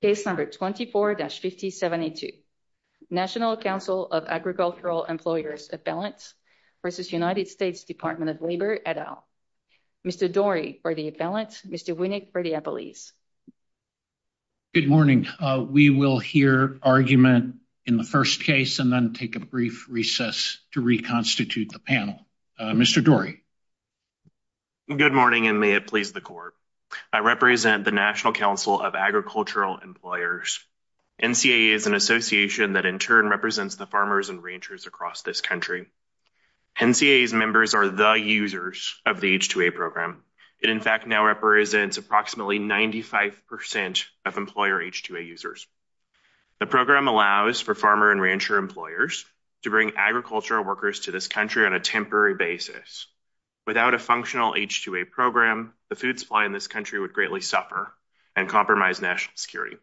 Case number 24-5072, National Council of Agricultural Employers Appellants v. United States Department of Labor et al. Mr. Dorey for the Appellants, Mr. Winnick for the Appellees. Good morning. We will hear argument in the first case and then take a brief recess to reconstitute the panel. Mr. Dorey. Good morning and may it please the court. I represent the National Council of Agricultural Employers. NCAA is an association that in turn represents the farmers and ranchers across this country. NCAA's members are the users of the H-2A program. It in fact now represents approximately 95% of employer H-2A users. The program allows for farmer and rancher employers to bring agricultural workers to this country on a temporary basis. Without a functional H-2A program, the food supply in this country would greatly suffer and compromise national security.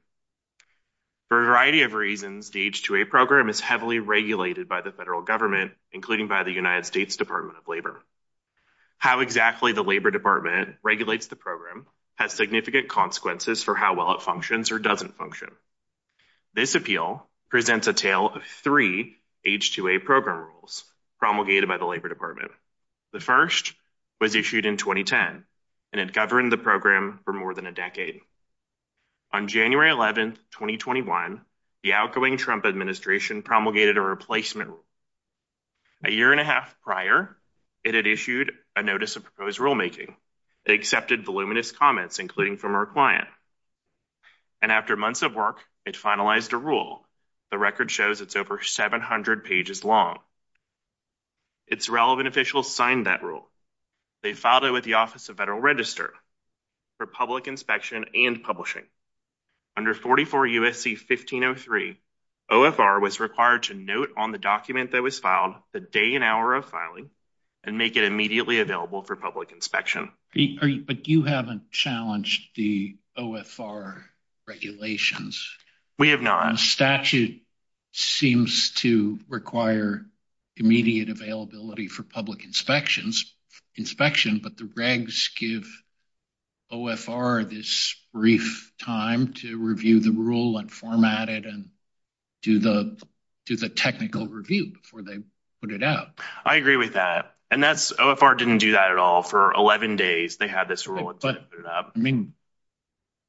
For a variety of reasons, the H-2A program is heavily regulated by the federal government, including by the United States Department of Labor. How exactly the Labor Department regulates the program has significant consequences for how well it functions or doesn't function. This appeal presents a tale of three H-2A program rules promulgated by the Labor Department. The first was issued in 2010 and it governed the program for more than a decade. On January 11, 2021, the outgoing Trump administration promulgated a replacement rule. A year and a half prior, it had issued a notice of proposed rulemaking. It accepted voluminous comments, including from our client. And after months of work, it finalized a rule. The record shows it's over 700 pages long. Its relevant officials signed that rule. They filed it with the Office of Federal Register for public inspection and publishing. Under 44 U.S.C. 1503, OFR was required to note on the document that was filed the day and hour of filing and make it immediately available for public inspection. But you haven't challenged the OFR regulations. We have not. The statute seems to require immediate availability for public inspection, but the regs give OFR this brief time to review the rule and format it and do the technical review before they put it out. I agree with that. And OFR didn't do that at all. For 11 days, they had this rule. I mean,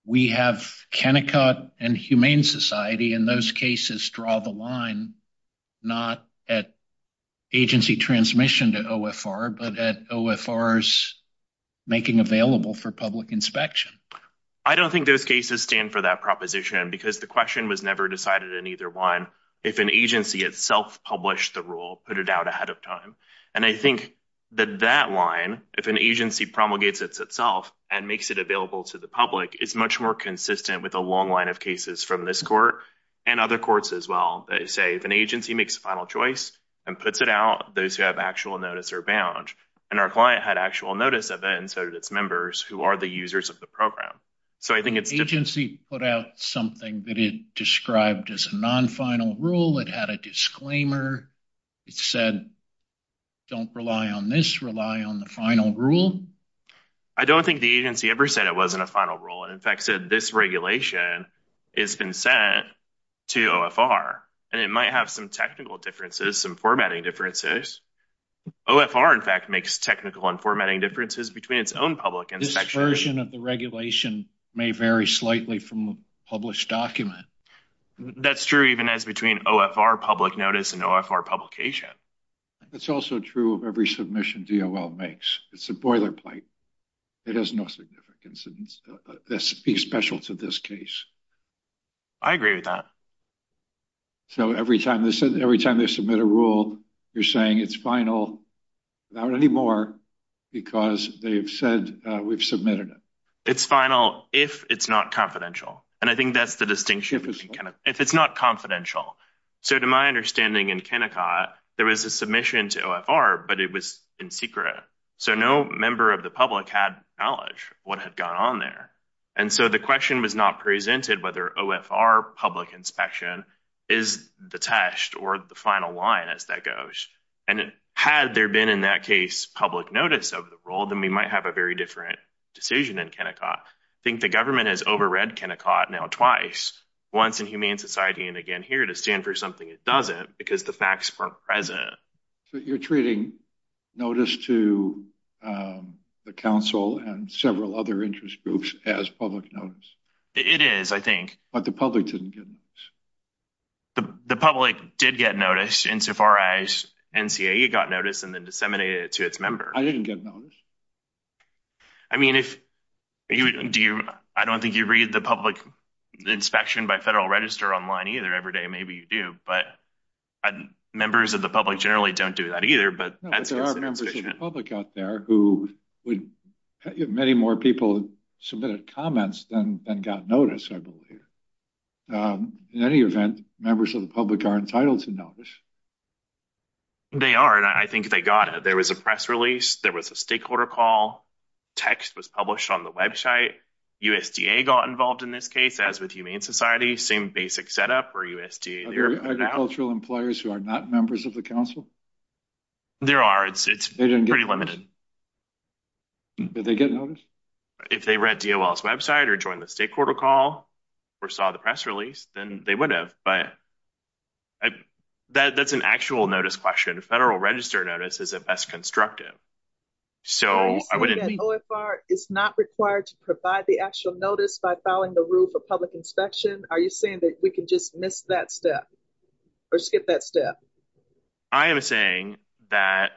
we have Kennecott and Humane Society in those cases draw the line, not at agency transmission to OFR, but at OFR's making available for public inspection. I don't think those cases stand for that proposition because the question was never decided in either one. If an agency itself published the rule, put it out ahead of time. And I think that that line, if an agency promulgates itself and makes it available to the public, is much more consistent with a long line of cases from this court and other courts as well. They say if an agency makes a final choice and puts it out, those who have actual notice are bound. And our client had actual notice of it and so did its members who are the users of the program. The agency put out something that it described as a non-final rule. It had a disclaimer. It said, don't rely on this, rely on the final rule. I don't think the agency ever said it wasn't a final rule. It, in fact, said this regulation has been sent to OFR. And it might have some technical differences, some formatting differences. OFR, in fact, makes technical and formatting differences between its own public inspection. That version of the regulation may vary slightly from a published document. That's true even as between OFR public notice and OFR publication. It's also true of every submission DOL makes. It's a boilerplate. It has no significance. It's special to this case. I agree with that. So every time they submit a rule, you're saying it's final, not anymore, because they've said we've submitted it. It's final if it's not confidential. And I think that's the distinction. If it's not confidential. So to my understanding in Kennecott, there was a submission to OFR, but it was in secret. So no member of the public had knowledge what had gone on there. And so the question was not presented whether OFR public inspection is the test or the final line, as that goes. And had there been in that case public notice of the rule, then we might have a very different decision in Kennecott. I think the government has overread Kennecott now twice, once in Humane Society and again here, to stand for something it doesn't because the facts weren't present. So you're treating notice to the council and several other interest groups as public notice. It is, I think. But the public didn't get notice. The public did get notice insofar as NCAE got notice and then disseminated it to its members. I didn't get notice. I mean, if you do, I don't think you read the public inspection by federal register online either every day. Maybe you do, but members of the public generally don't do that either. But there are members of the public out there who would have many more people submitted comments than got notice. I believe in any event, members of the public are entitled to notice. They are, and I think they got it. There was a press release. There was a stakeholder call. Text was published on the website. USDA got involved in this case, as with Humane Society. Same basic setup for USDA. Are there agricultural employers who are not members of the council? There are. It's pretty limited. Did they get notice? If they read DOL's website or joined the stakeholder call or saw the press release, then they would have. That's an actual notice question. Federal register notice is the best constructive. Are you saying that OFR is not required to provide the actual notice by filing the rule for public inspection? Are you saying that we can just miss that step or skip that step? I am saying that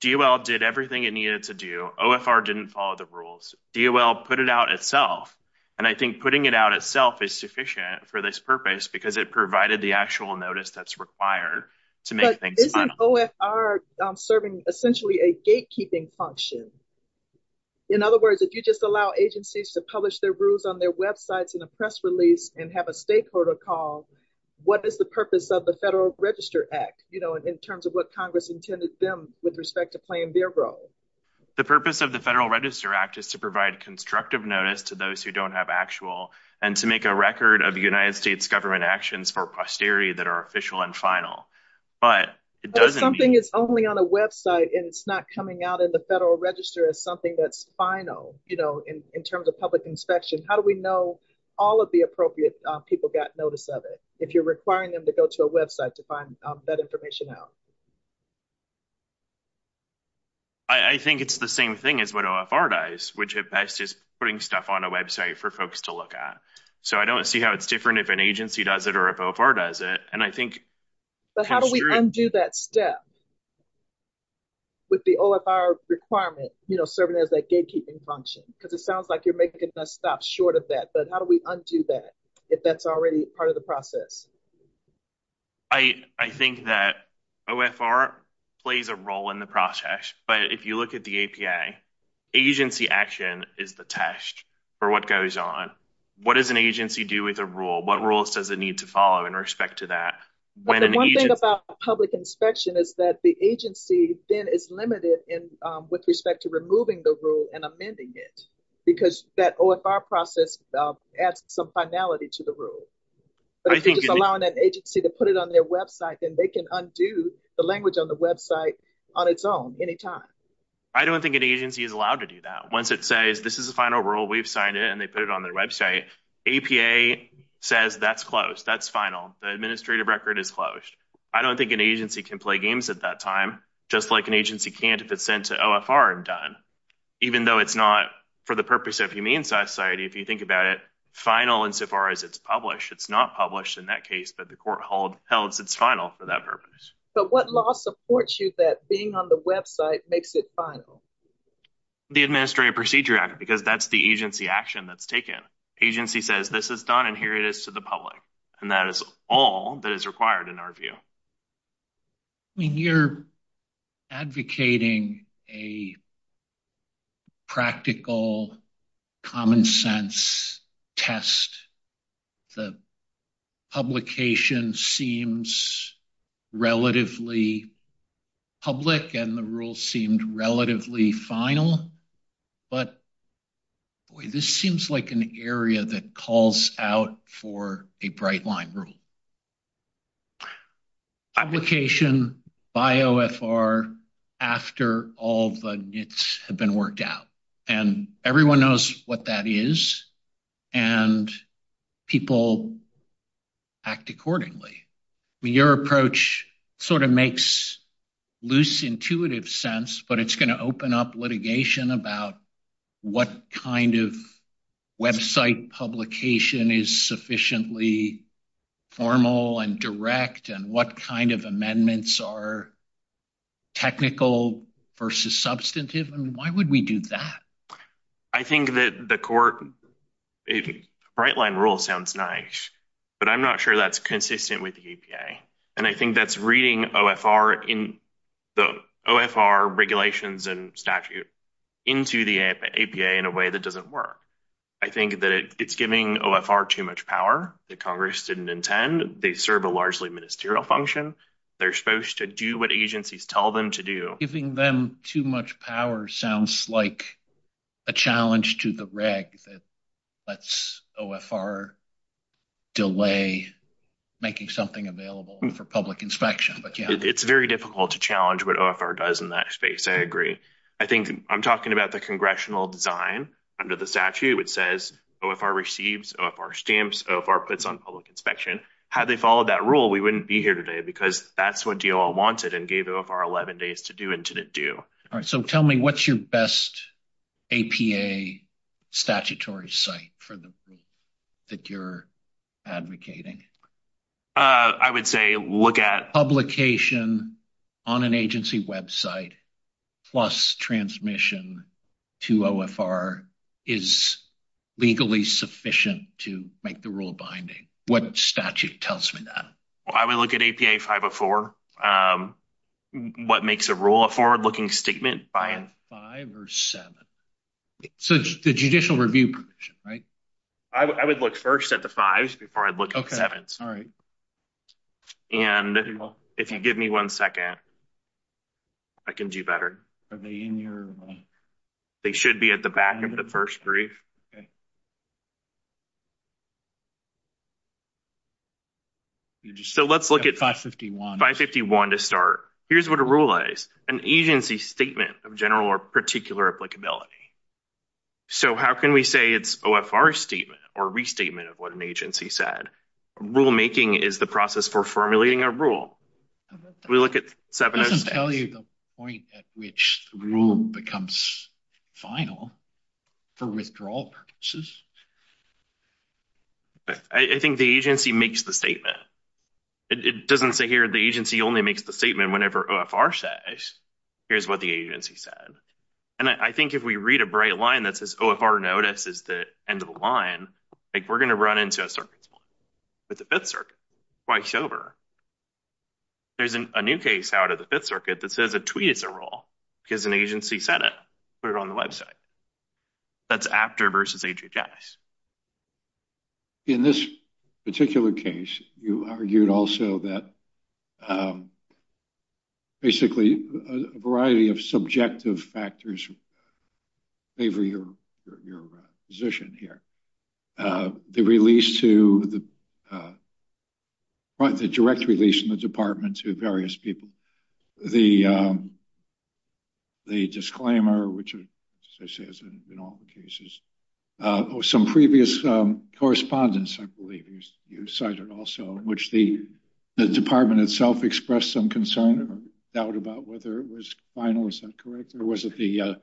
DOL did everything it needed to do. OFR didn't follow the rules. DOL put it out itself, and I think putting it out itself is sufficient for this purpose because it provided the actual notice that's required to make things final. But isn't OFR serving essentially a gatekeeping function? In other words, if you just allow agencies to publish their rules on their websites in a press release and have a stakeholder call, what is the purpose of the Federal Register Act in terms of what Congress intended them with respect to playing their role? The purpose of the Federal Register Act is to provide constructive notice to those who don't have actual and to make a record of United States government actions for posterity that are official and final. But it doesn't mean— But if something is only on a website and it's not coming out in the Federal Register as something that's final, you know, in terms of public inspection, how do we know all of the appropriate people got notice of it if you're requiring them to go to a website to find that information out? I think it's the same thing as what OFR does, which at best is putting stuff on a website for folks to look at. So I don't see how it's different if an agency does it or if OFR does it. And I think— But how do we undo that step with the OFR requirement, you know, serving as that gatekeeping function? Because it sounds like you're making us stop short of that. But how do we undo that if that's already part of the process? I think that OFR plays a role in the process. But if you look at the APA, agency action is the test for what goes on. What does an agency do with a rule? What rules does it need to follow in respect to that? One thing about public inspection is that the agency then is limited with respect to removing the rule and amending it because that OFR process adds some finality to the rule. But if you're just allowing that agency to put it on their website, then they can undo the language on the website on its own anytime. I don't think an agency is allowed to do that. Once it says, this is the final rule, we've signed it, and they put it on their website, APA says that's closed. That's final. The administrative record is closed. I don't think an agency can play games at that time, just like an agency can't if it's sent to OFR and done. Even though it's not for the purpose of humane society, if you think about it, final insofar as it's published. It's not published in that case, but the court holds it's final for that purpose. But what law supports you that being on the website makes it final? The Administrative Procedure Act, because that's the agency action that's taken. Agency says, this is done, and here it is to the public. And that is all that is required in our view. I mean, you're advocating a practical, common sense test. The publication seems relatively public, and the rule seemed relatively final. But this seems like an area that calls out for a bright line rule. Publication by OFR after all the nits have been worked out. And everyone knows what that is, and people act accordingly. Your approach sort of makes loose, intuitive sense, but it's going to open up litigation about what kind of website publication is sufficiently formal and direct and what kind of amendments are technical versus substantive, and why would we do that? I think that the court, bright line rule sounds nice, but I'm not sure that's consistent with the APA. And I think that's reading OFR regulations and statute into the APA in a way that doesn't work. I think that it's giving OFR too much power that Congress didn't intend. They serve a largely ministerial function. They're supposed to do what agencies tell them to do. Giving them too much power sounds like a challenge to the reg that lets OFR delay making something available for public inspection. It's very difficult to challenge what OFR does in that space, I agree. I'm talking about the congressional design under the statute. It says OFR receives, OFR stamps, OFR puts on public inspection. Had they followed that rule, we wouldn't be here today because that's what DOL wanted and gave OFR 11 days to do and didn't do. All right, so tell me what's your best APA statutory site for the rule that you're advocating? I would say look at... Publication on an agency website plus transmission to OFR is legally sufficient to make the rule binding. What statute tells me that? I would look at APA 504. What makes a rule a forward-looking statement? Five or seven? So the judicial review provision, right? I would look first at the fives before I look at the sevens. And if you give me one second, I can do better. Are they in your... They should be at the back of the first brief. Okay. So let's look at... 551. 551 to start. Here's what a rule is, an agency statement of general or particular applicability. So how can we say it's OFR statement or restatement of what an agency said? Rulemaking is the process for formulating a rule. We look at... It doesn't tell you the point at which the rule becomes final for withdrawal purposes. I think the agency makes the statement. It doesn't say here the agency only makes the statement whenever OFR says. Here's what the agency said. And I think if we read a bright line that says OFR notice is the end of the line, like we're going to run into a circumstance with the Fifth Circuit. Twice over. There's a new case out of the Fifth Circuit that says a tweet is a rule because an agency said it. Put it on the website. That's AFTR versus HHS. In this particular case, you argued also that basically a variety of subjective factors favor your position here. The direct release in the department to various people. The disclaimer, which, as I say, has been in all the cases. Some previous correspondence, I believe you cited also, in which the department itself expressed some concern or doubt about whether it was final. Is that correct? Or was it the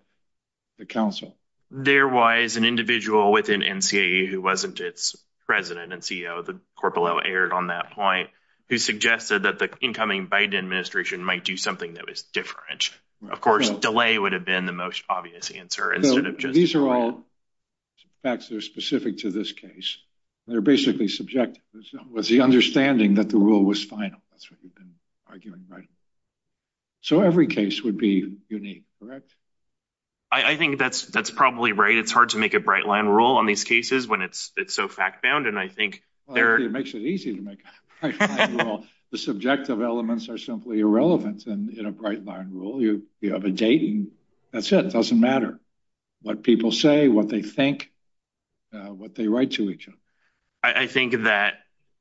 counsel? There was an individual within NCAE who wasn't its president and CEO. The corporal aired on that point, who suggested that the incoming Biden administration might do something that was different. Of course, delay would have been the most obvious answer. These are all facts that are specific to this case. They're basically subjective. It was the understanding that the rule was final. That's what you've been arguing, right? So every case would be unique, correct? I think that's probably right. It's hard to make a bright line rule on these cases when it's so fact bound. It makes it easy to make a bright line rule. The subjective elements are simply irrelevant in a bright line rule. You have a date, and that's it. It doesn't matter what people say, what they think, what they write to each other. I think that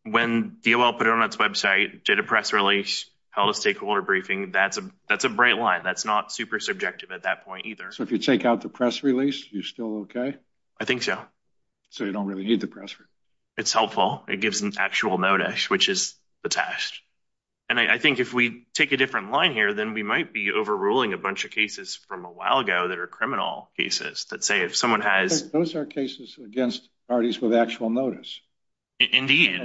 when DOL put it on its website, did a press release, held a stakeholder briefing, that's a bright line. That's not super subjective at that point either. So if you take out the press release, you're still okay? I think so. So you don't really need the press release. It's helpful. It gives an actual notice, which is the test. And I think if we take a different line here, then we might be overruling a bunch of cases from a while ago that are criminal cases. Those are cases against parties with actual notice. Indeed.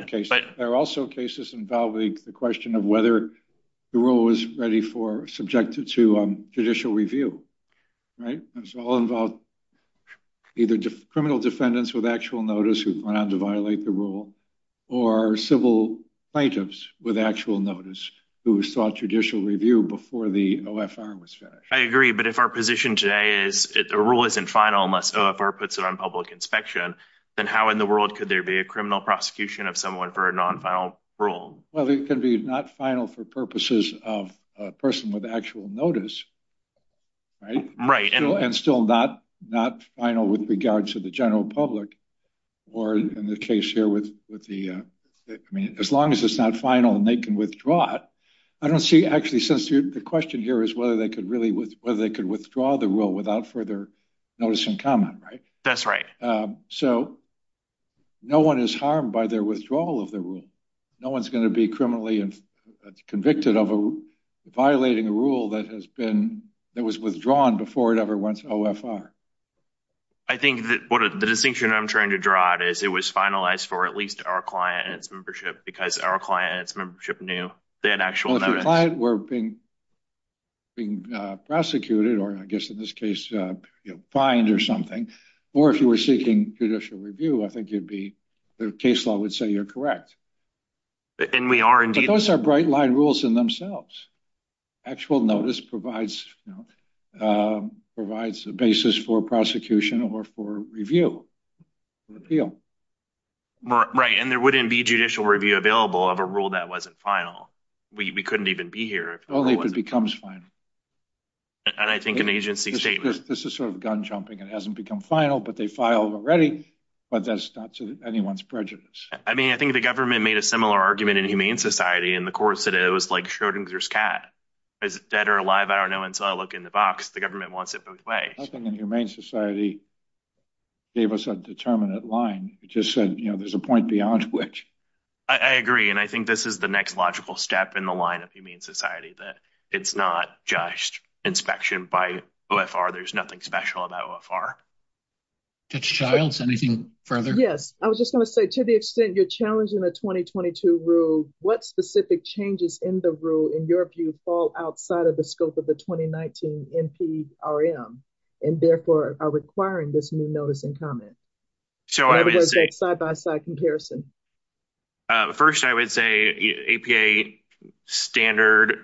There are also cases involving the question of whether the rule was ready for, subjected to judicial review. Those all involve either criminal defendants with actual notice who went on to violate the rule or civil plaintiffs with actual notice who sought judicial review before the OFR was finished. I agree. But if our position today is a rule isn't final unless OFR puts it on public inspection, then how in the world could there be a criminal prosecution of someone for a non-final rule? Well, it could be not final for purposes of a person with actual notice, right? And still not final with regards to the general public or in the case here with the, I mean, as long as it's not final and they can withdraw it. I don't see actually since the question here is whether they could really, whether they could withdraw the rule without further notice and comment. That's right. So no one is harmed by their withdrawal of the rule. No one's going to be criminally convicted of violating a rule that has been, that was withdrawn before it ever went to OFR. I think that the distinction I'm trying to draw is it was finalized for at least our client and its membership because our client and its membership knew they had actual notice. If your client were being prosecuted, or I guess in this case, you know, fined or something, or if you were seeking judicial review, I think you'd be, the case law would say you're correct. And we are indeed. But those are bright line rules in themselves. Actual notice provides, you know, provides a basis for prosecution or for review or appeal. Right, and there wouldn't be judicial review available of a rule that wasn't final. We couldn't even be here. Only if it becomes final. And I think an agency statement. This is sort of gun jumping. It hasn't become final, but they filed already. But that's not to anyone's prejudice. I mean, I think the government made a similar argument in Humane Society in the courts that it was like Schrodinger's cat. Is it dead or alive? I don't know until I look in the box. The government wants it both ways. I think in Humane Society gave us a determinate line. It just said, you know, there's a point beyond which. I agree. And I think this is the next logical step in the line of Humane Society, that it's not just inspection by OFR. There's nothing special about OFR. Judge Childs, anything further? Yes. I was just going to say, to the extent you're challenging the 2022 rule, what specific changes in the rule, in your view, fall outside of the scope of the 2019 NPRM and therefore are requiring this new notice and comment? Or is it a side-by-side comparison? First, I would say APA standard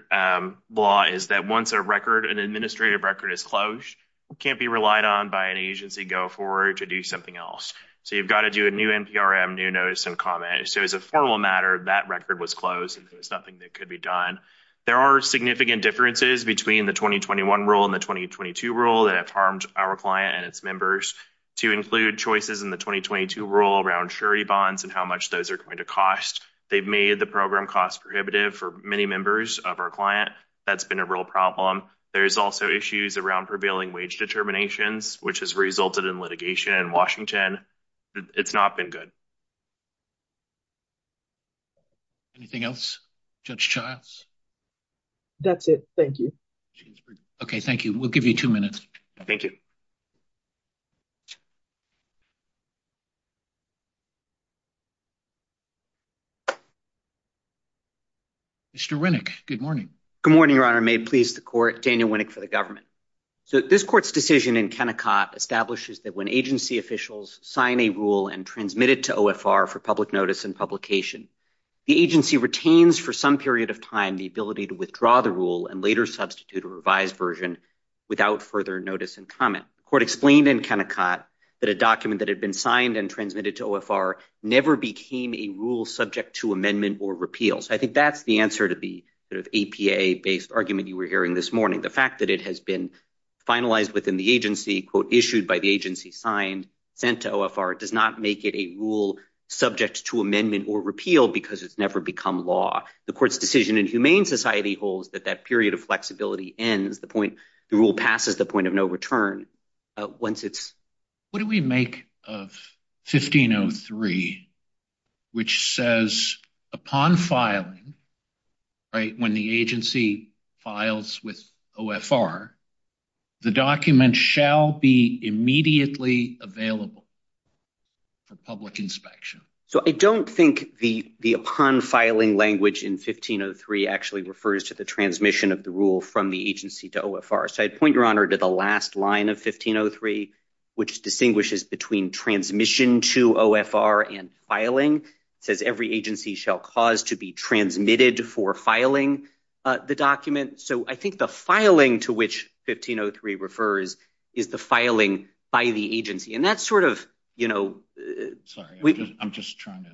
law is that once a record, an administrative record is closed, it can't be relied on by an agency go forward to do something else. So you've got to do a new NPRM, new notice and comment. So as a formal matter, that record was closed. It was nothing that could be done. There are significant differences between the 2021 rule and the 2022 rule that have harmed our client and its members to include choices in the 2022 rule around surety bonds and how much those are going to cost. They've made the program cost prohibitive for many members of our client. That's been a real problem. There's also issues around prevailing wage determinations, which has resulted in litigation in Washington. It's not been good. Anything else, Judge Childs? That's it. Thank you. Okay. Thank you. We'll give you two minutes. Thank you. Mr. Good morning. Good morning, Your Honor. May please the court. Daniel Winnick for the government. So this court's decision in Kennecott establishes that when agency officials sign a rule and transmitted to OFR for public notice and publication, the agency retains for some period of time the ability to withdraw the rule and later substitute a revised version without further notice and comment. The court explained in Kennecott that a document that had been signed and transmitted to OFR never became a rule subject to amendment or repeal. So I think that's the answer to the APA-based argument you were hearing this morning. The fact that it has been finalized within the agency, quote, issued by the agency, signed, sent to OFR, does not make it a rule subject to amendment or repeal because it's never become law. The court's decision in Humane Society holds that that period of flexibility ends, the point the rule passes, the point of no return. What do we make of 1503, which says upon filing, right, when the agency files with OFR, the document shall be immediately available for public inspection? So I don't think the upon filing language in 1503 actually refers to the transmission of the rule from the agency to OFR. So I'd point your honor to the last line of 1503, which distinguishes between transmission to OFR and filing. It says every agency shall cause to be transmitted for filing the document. So I think the filing to which 1503 refers is the filing by the agency. And that's sort of, you know. Sorry, I'm just trying to.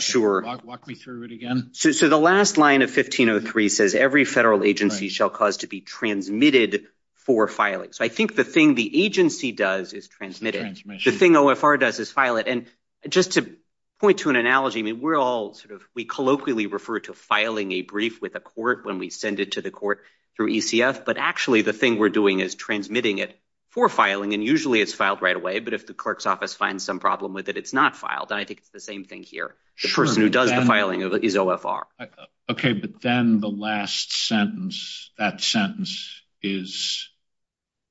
Sure. Walk me through it again. So the last line of 1503 says every federal agency shall cause to be transmitted for filing. So I think the thing the agency does is transmit it. The thing OFR does is file it. And just to point to an analogy, I mean, we're all sort of, we colloquially refer to filing a brief with a court when we send it to the court through ECF. But actually the thing we're doing is transmitting it for filing. And usually it's filed right away. But if the clerk's office finds some problem with it, it's not filed. And I think it's the same thing here. The person who does the filing is OFR. Okay. But then the last sentence, that sentence is,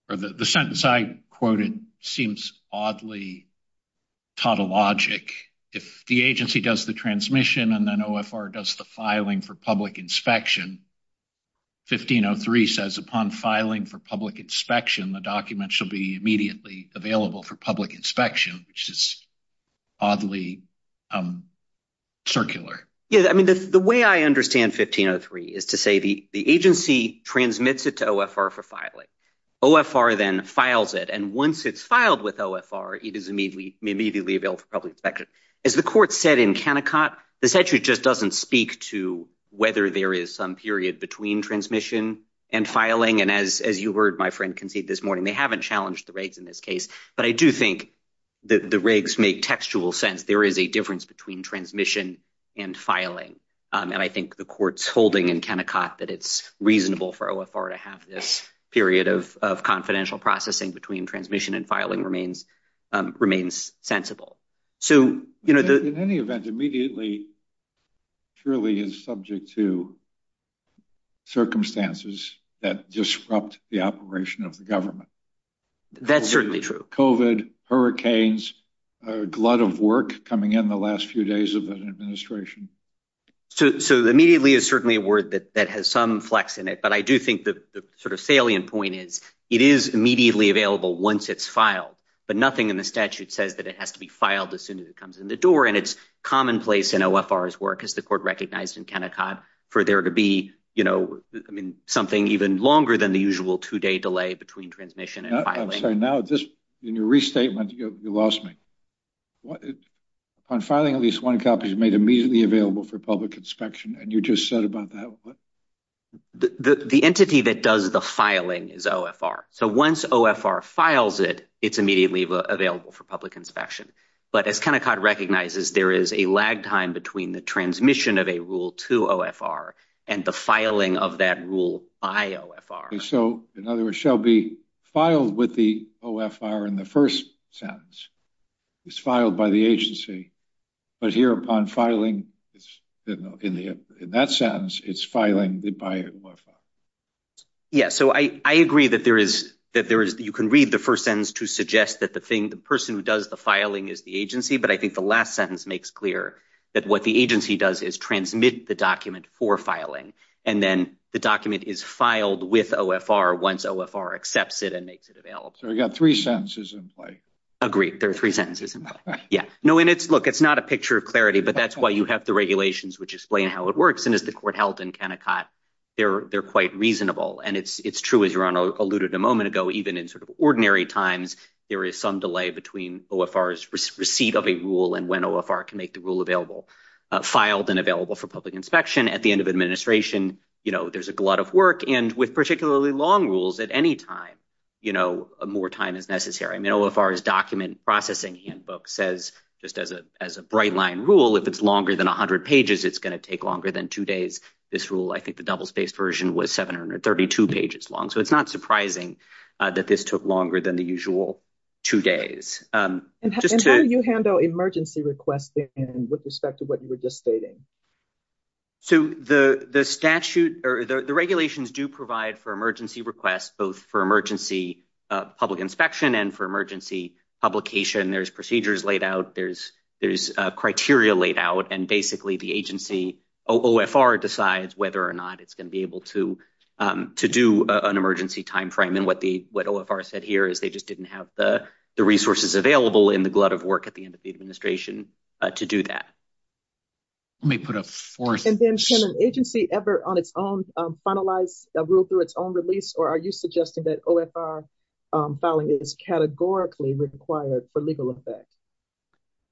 or the sentence I quoted seems oddly tautologic. If the agency does the transmission and then OFR does the filing for public inspection, 1503 says upon filing for public inspection, the document shall be immediately available for public inspection, which is oddly circular. Yeah, I mean, the way I understand 1503 is to say the agency transmits it to OFR for filing. OFR then files it. And once it's filed with OFR, it is immediately available for public inspection. As the court said in Kennecott, this actually just doesn't speak to whether there is some period between transmission and filing. And as you heard my friend concede this morning, they haven't challenged the rigs in this case. But I do think the rigs make textual sense. There is a difference between transmission and filing. And I think the court's holding in Kennecott that it's reasonable for OFR to have this period of confidential processing between transmission and filing remains sensible. In any event, immediately truly is subject to circumstances that disrupt the operation of the government. That's certainly true. COVID, hurricanes, a glut of work coming in the last few days of an administration. So immediately is certainly a word that has some flex in it. But I do think the sort of salient point is it is immediately available once it's filed. But nothing in the statute says that it has to be filed as soon as it comes in the door. And it's commonplace in OFR's work, as the court recognized in Kennecott, for there to be, you know, I mean, something even longer than the usual two day delay between transmission and filing. In your restatement, you lost me. On filing, at least one copy is made immediately available for public inspection. And you just said about that. The entity that does the filing is OFR. So once OFR files it, it's immediately available for public inspection. But as Kennecott recognizes, there is a lag time between the transmission of a rule to OFR and the filing of that rule by OFR. So in other words, it shall be filed with the OFR in the first sentence. It's filed by the agency. But here upon filing, in that sentence, it's filing by OFR. Yes. So I agree that there is, that there is, you can read the first sentence to suggest that the thing, the person who does the filing is the agency. But I think the last sentence makes clear that what the agency does is transmit the document for filing. And then the document is filed with OFR once OFR accepts it and makes it available. So we've got three sentences in play. Agreed. There are three sentences in play. Yeah. No, and it's, look, it's not a picture of clarity. But that's why you have the regulations, which explain how it works. And as the court held in Kennecott, they're quite reasonable. And it's true, as Rana alluded a moment ago, even in sort of ordinary times, there is some delay between OFR's receipt of a rule and when OFR can make the rule available, filed and available for public inspection. At the end of administration, you know, there's a glut of work. And with particularly long rules, at any time, you know, more time is necessary. I mean, OFR's document processing handbook says, just as a bright line rule, if it's longer than 100 pages, it's going to take longer than two days. This rule, I think the double-spaced version was 732 pages long. So it's not surprising that this took longer than the usual two days. And how do you handle emergency requests, then, with respect to what you were just stating? So the statute or the regulations do provide for emergency requests, both for emergency public inspection and for emergency publication. There's procedures laid out. There's criteria laid out. And basically, the agency, OFR, decides whether or not it's going to be able to do an emergency time frame. And what OFR said here is they just didn't have the resources available in the glut of work at the end of the administration to do that. Let me put a fourth. And then can an agency ever on its own finalize a rule through its own release, or are you suggesting that OFR filing is categorically required for legal effect?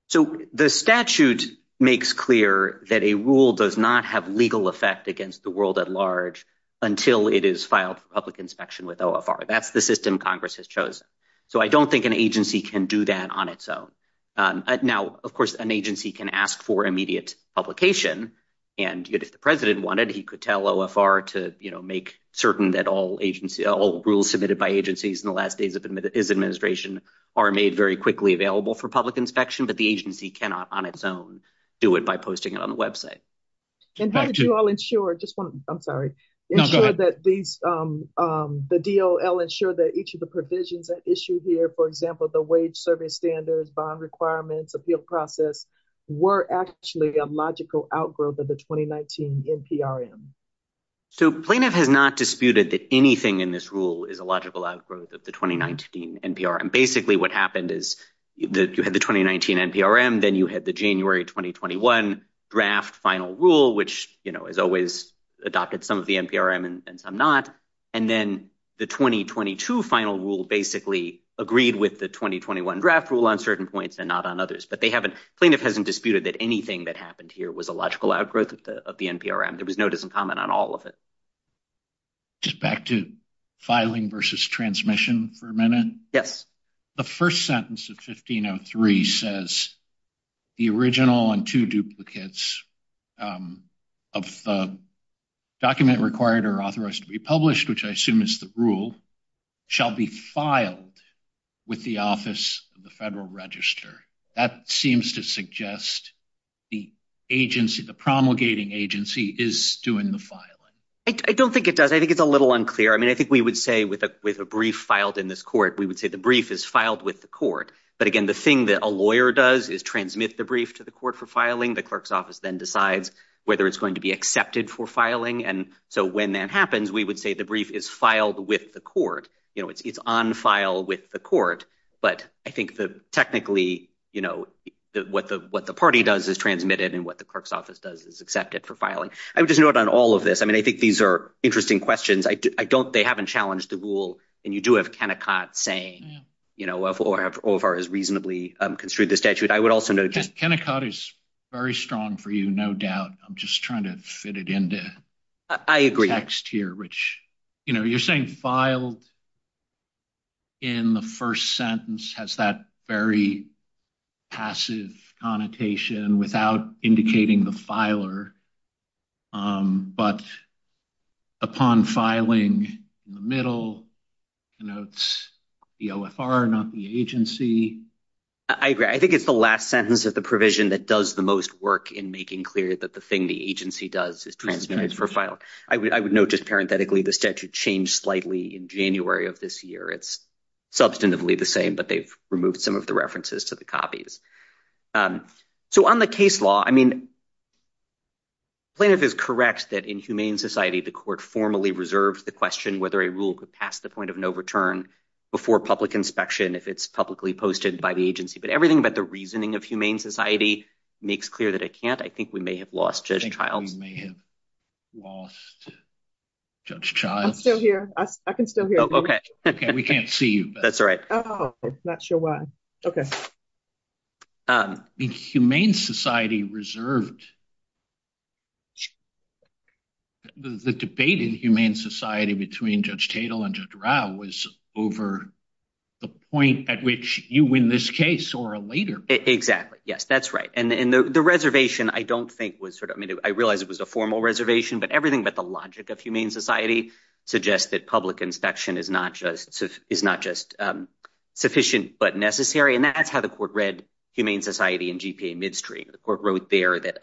So the statute makes clear that a rule does not have legal effect against the world at large until it is filed for public inspection with OFR. That's the system Congress has chosen. So I don't think an agency can do that on its own. Now, of course, an agency can ask for immediate publication. And if the president wanted, he could tell OFR to make certain that all rules submitted by agencies in the last days of his administration are made very quickly available for public inspection. But the agency cannot on its own do it by posting it on the website. And how did you all ensure, just one, I'm sorry, ensure that these, the DOL ensure that each of the provisions that issue here, for example, the wage service standards, bond requirements, appeal process, were actually a logical outgrowth of the 2019 NPRM? So plaintiff has not disputed that anything in this rule is a logical outgrowth of the 2019 NPRM. Basically, what happened is you had the 2019 NPRM, then you had the January 2021 draft final rule, which, you know, has always adopted some of the NPRM and some not. And then the 2022 final rule basically agreed with the 2021 draft rule on certain points and not on others. But they haven't, plaintiff hasn't disputed that anything that happened here was a logical outgrowth of the NPRM. There was no discomment on all of it. Just back to filing versus transmission for a minute. Yes. The first sentence of 1503 says the original and two duplicates of the document required or authorized to be published, which I assume is the rule, shall be filed with the Office of the Federal Register. That seems to suggest the agency, the promulgating agency, is doing the filing. I don't think it does. I think it's a little unclear. I mean, I think we would say with a brief filed in this court, we would say the brief is filed with the court. But again, the thing that a lawyer does is transmit the brief to the court for filing. The clerk's office then decides whether it's going to be accepted for filing. And so when that happens, we would say the brief is filed with the court. You know, it's on file with the court. But I think technically, you know, what the party does is transmit it and what the clerk's office does is accept it for filing. I would just note on all of this, I mean, I think these are interesting questions. I don't – they haven't challenged the rule. And you do have Kennecott saying, you know, OFR has reasonably construed the statute. I would also note – Kennecott is very strong for you, no doubt. I'm just trying to fit it into the text here. Which, you know, you're saying filed in the first sentence has that very passive connotation without indicating the filer. But upon filing in the middle, it's the OFR, not the agency. I agree. I think it's the last sentence of the provision that does the most work in making clear that the thing the agency does is transmit it for filing. But I would note just parenthetically, the statute changed slightly in January of this year. It's substantively the same, but they've removed some of the references to the copies. So on the case law, I mean, Plaintiff is correct that in humane society, the court formally reserves the question whether a rule could pass the point of no return before public inspection if it's publicly posted by the agency. But everything about the reasoning of humane society makes clear that it can't. I think we may have lost Judge Childs. We may have lost Judge Childs. I'm still here. I can still hear you. We can't see you. That's all right. Not sure why. Humane society reserved. The debate in humane society between Judge Tatel and Judge Rao was over the point at which you win this case or a later. Exactly. Yes, that's right. And the reservation, I realize it was a formal reservation, but everything but the logic of humane society suggests that public inspection is not just sufficient but necessary. And that's how the court read humane society in GPA midstream. The court wrote there that,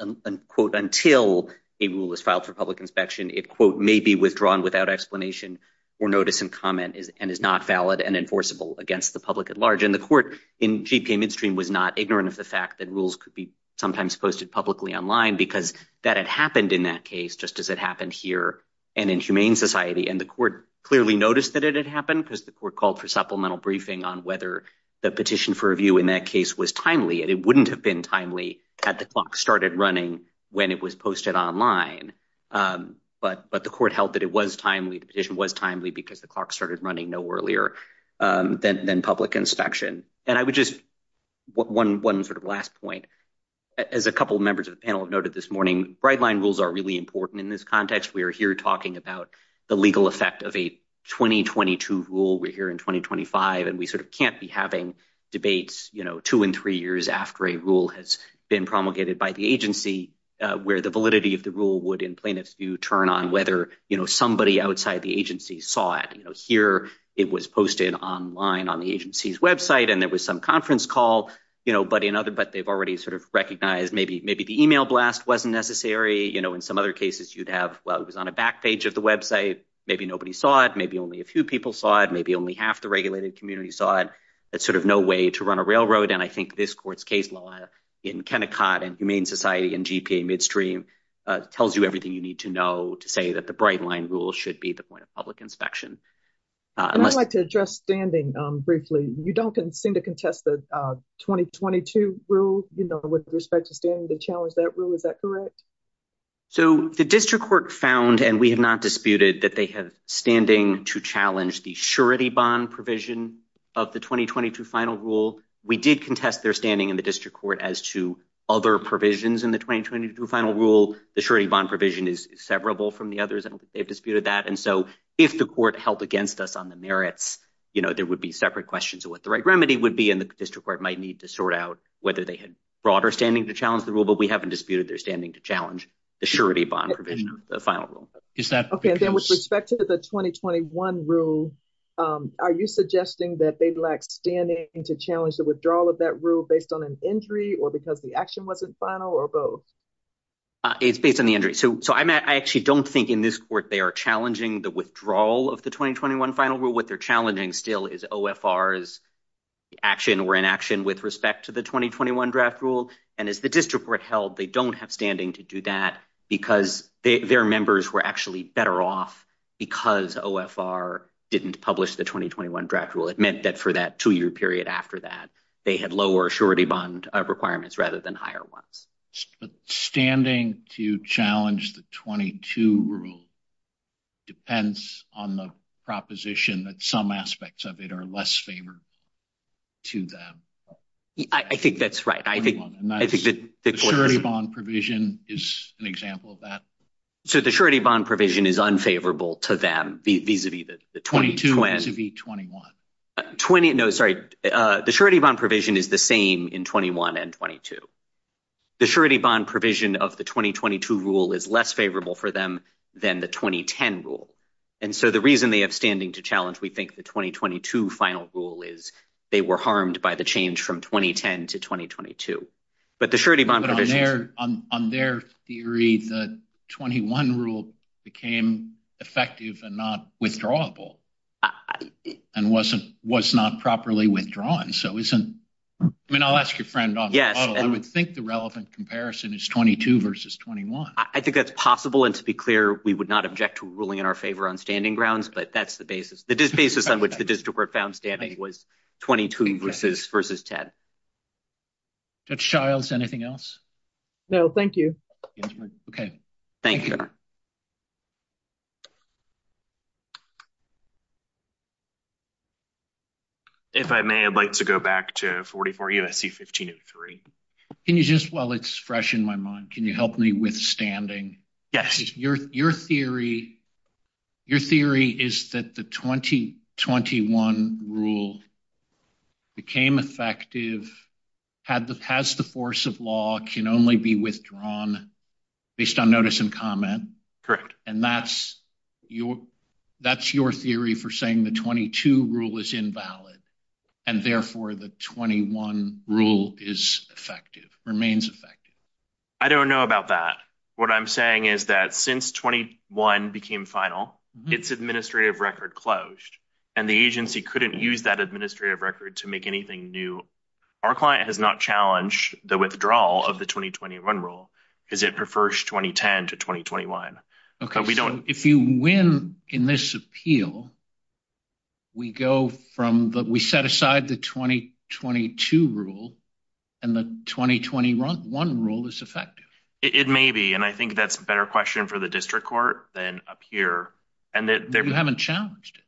quote, until a rule is filed for public inspection, it, quote, may be withdrawn without explanation or notice and comment and is not valid and enforceable against the public at large. And the court in GPA midstream was not ignorant of the fact that rules could be sometimes posted publicly online because that had happened in that case, just as it happened here and in humane society. And the court clearly noticed that it had happened because the court called for supplemental briefing on whether the petition for review in that case was timely. And it wouldn't have been timely had the clock started running when it was posted online. But but the court held that it was timely. The petition was timely because the clock started running no earlier than public inspection. And I would just one one sort of last point, as a couple of members of the panel noted this morning, bright line rules are really important in this context. We are here talking about the legal effect of a twenty twenty two rule. We're here in twenty twenty five and we sort of can't be having debates, you know, two and three years after a rule has been promulgated by the agency where the validity of the rule would in plaintiffs do turn on whether, you know, somebody outside the agency saw it here. It was posted online on the agency's Web site and there was some conference call, you know, but in other. But they've already sort of recognized maybe maybe the email blast wasn't necessary. You know, in some other cases you'd have. Well, it was on a back page of the Web site. Maybe nobody saw it. Maybe only a few people saw it. Maybe only half the regulated community saw it. It's sort of no way to run a railroad. And I think this court's case law in Kennecott and Humane Society and GP midstream tells you everything you need to know to say that the bright line rule should be the point of public inspection. I'd like to address standing briefly. You don't seem to contest the twenty twenty two rule with respect to standing to challenge that rule. Is that correct? So the district court found and we have not disputed that they have standing to challenge the surety bond provision of the twenty twenty two final rule. We did contest their standing in the district court as to other provisions in the twenty twenty two final rule. The surety bond provision is severable from the others and they've disputed that. And so if the court held against us on the merits, you know, there would be separate questions of what the right remedy would be. And the district court might need to sort out whether they had broader standing to challenge the rule. But we haven't disputed their standing to challenge the surety bond provision of the final rule. Is that OK with respect to the twenty twenty one rule? Are you suggesting that they lack standing to challenge the withdrawal of that rule based on an injury or because the action wasn't final or both? It's based on the injury. So so I actually don't think in this court they are challenging the withdrawal of the twenty twenty one final rule. What they're challenging still is OFR is action or inaction with respect to the twenty twenty one draft rule. And as the district court held, they don't have standing to do that because their members were actually better off because OFR didn't publish the twenty twenty one draft rule. It meant that for that two year period after that, they had lower surety bond requirements rather than higher ones. But standing to challenge the twenty two rule depends on the proposition that some aspects of it are less favor to them. I think that's right. I think I think that the surety bond provision is an example of that. So the surety bond provision is unfavorable to them. Twenty two to be twenty one. Twenty. No, sorry. The surety bond provision is the same in twenty one and twenty two. The surety bond provision of the twenty twenty two rule is less favorable for them than the twenty ten rule. And so the reason they have standing to challenge, we think the twenty twenty two final rule is they were harmed by the change from twenty ten to twenty twenty two. But on their on their theory, the twenty one rule became effective and not withdrawable and wasn't was not properly withdrawn. So isn't I mean, I'll ask your friend. Yes. I would think the relevant comparison is twenty two versus twenty one. I think that's possible. And to be clear, we would not object to ruling in our favor on standing grounds. But that's the basis. The basis on which the district court found standing was twenty two versus versus ten. Judge Childs, anything else? No, thank you. OK, thank you. If I may, I'd like to go back to 44 USC, 15 of three. Can you just while it's fresh in my mind, can you help me with standing? Yes. Your theory, your theory is that the twenty twenty one rule became effective had the past. The force of law can only be withdrawn based on notice and comment. Correct. And that's your that's your theory for saying the twenty two rule is invalid and therefore the twenty one rule is effective, remains effective. I don't know about that. What I'm saying is that since twenty one became final, it's administrative record closed and the agency couldn't use that administrative record to make anything new. Our client has not challenged the withdrawal of the twenty twenty one rule because it prefers twenty ten to twenty twenty one. OK, we don't if you win in this appeal. We go from we set aside the twenty twenty two rule and the twenty twenty one rule is effective. It may be and I think that's a better question for the district court than up here and that they haven't challenged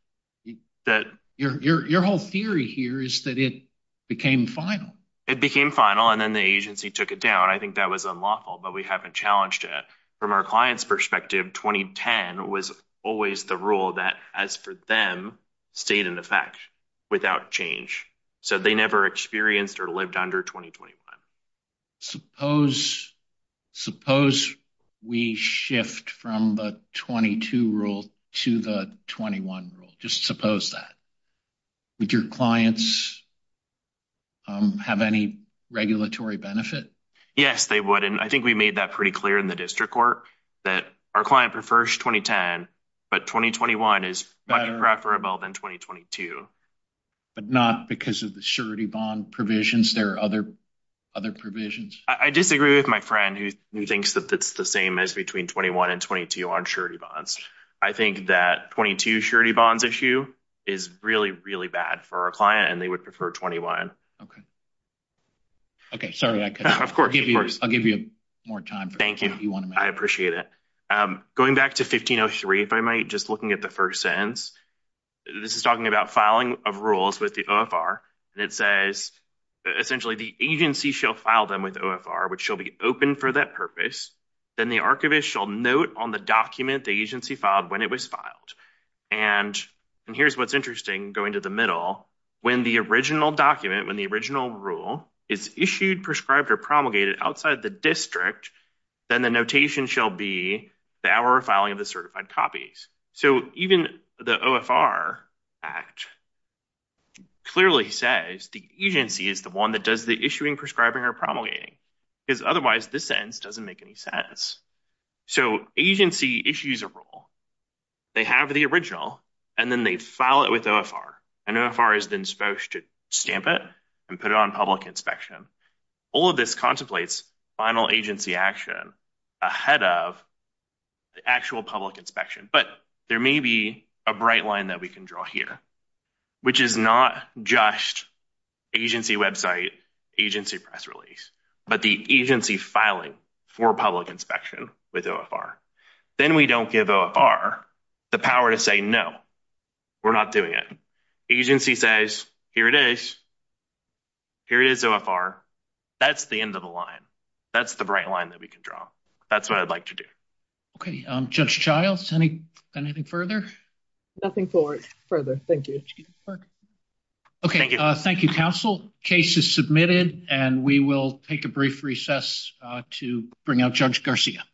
that. Your whole theory here is that it became final. It became final. And then the agency took it down. I think that was unlawful, but we haven't challenged it from our clients perspective. Twenty ten was always the rule that as for them stayed in effect without change. So they never experienced or lived under twenty twenty one. Suppose suppose we shift from the twenty two rule to the twenty one rule. Would your clients have any regulatory benefit? Yes, they would. And I think we made that pretty clear in the district court that our client prefers twenty ten. But twenty twenty one is better than twenty twenty two, but not because of the surety bond provisions. There are other other provisions. I disagree with my friend who thinks that that's the same as between twenty one and twenty two on surety bonds. I think that twenty two surety bonds issue is really, really bad for our client and they would prefer twenty one. OK. OK, sorry. Of course. I'll give you more time. Thank you. You want to. I appreciate it. Going back to 1503, if I might, just looking at the first sentence, this is talking about filing of rules with the OFR. And it says essentially the agency shall file them with OFR, which shall be open for that purpose. Then the archivist shall note on the document the agency filed when it was filed. And here's what's interesting going to the middle. When the original document, when the original rule is issued, prescribed or promulgated outside the district, then the notation shall be the hour of filing of the certified copies. So even the OFR act clearly says the agency is the one that does the issuing, prescribing or promulgating, because otherwise this sentence doesn't make any sense. So agency issues a rule. They have the original and then they file it with OFR. And OFR is then supposed to stamp it and put it on public inspection. All of this contemplates final agency action ahead of the actual public inspection. But there may be a bright line that we can draw here, which is not just agency website, agency press release, but the agency filing for public inspection with OFR. Then we don't give OFR the power to say no, we're not doing it. Agency says, here it is. Here it is, OFR. That's the end of the line. That's the bright line that we can draw. That's what I'd like to do. Okay. Judge Childs, anything further? Nothing further. Thank you. Okay. Thank you, counsel. Case is submitted. And we will take a brief recess to bring out Judge Garcia.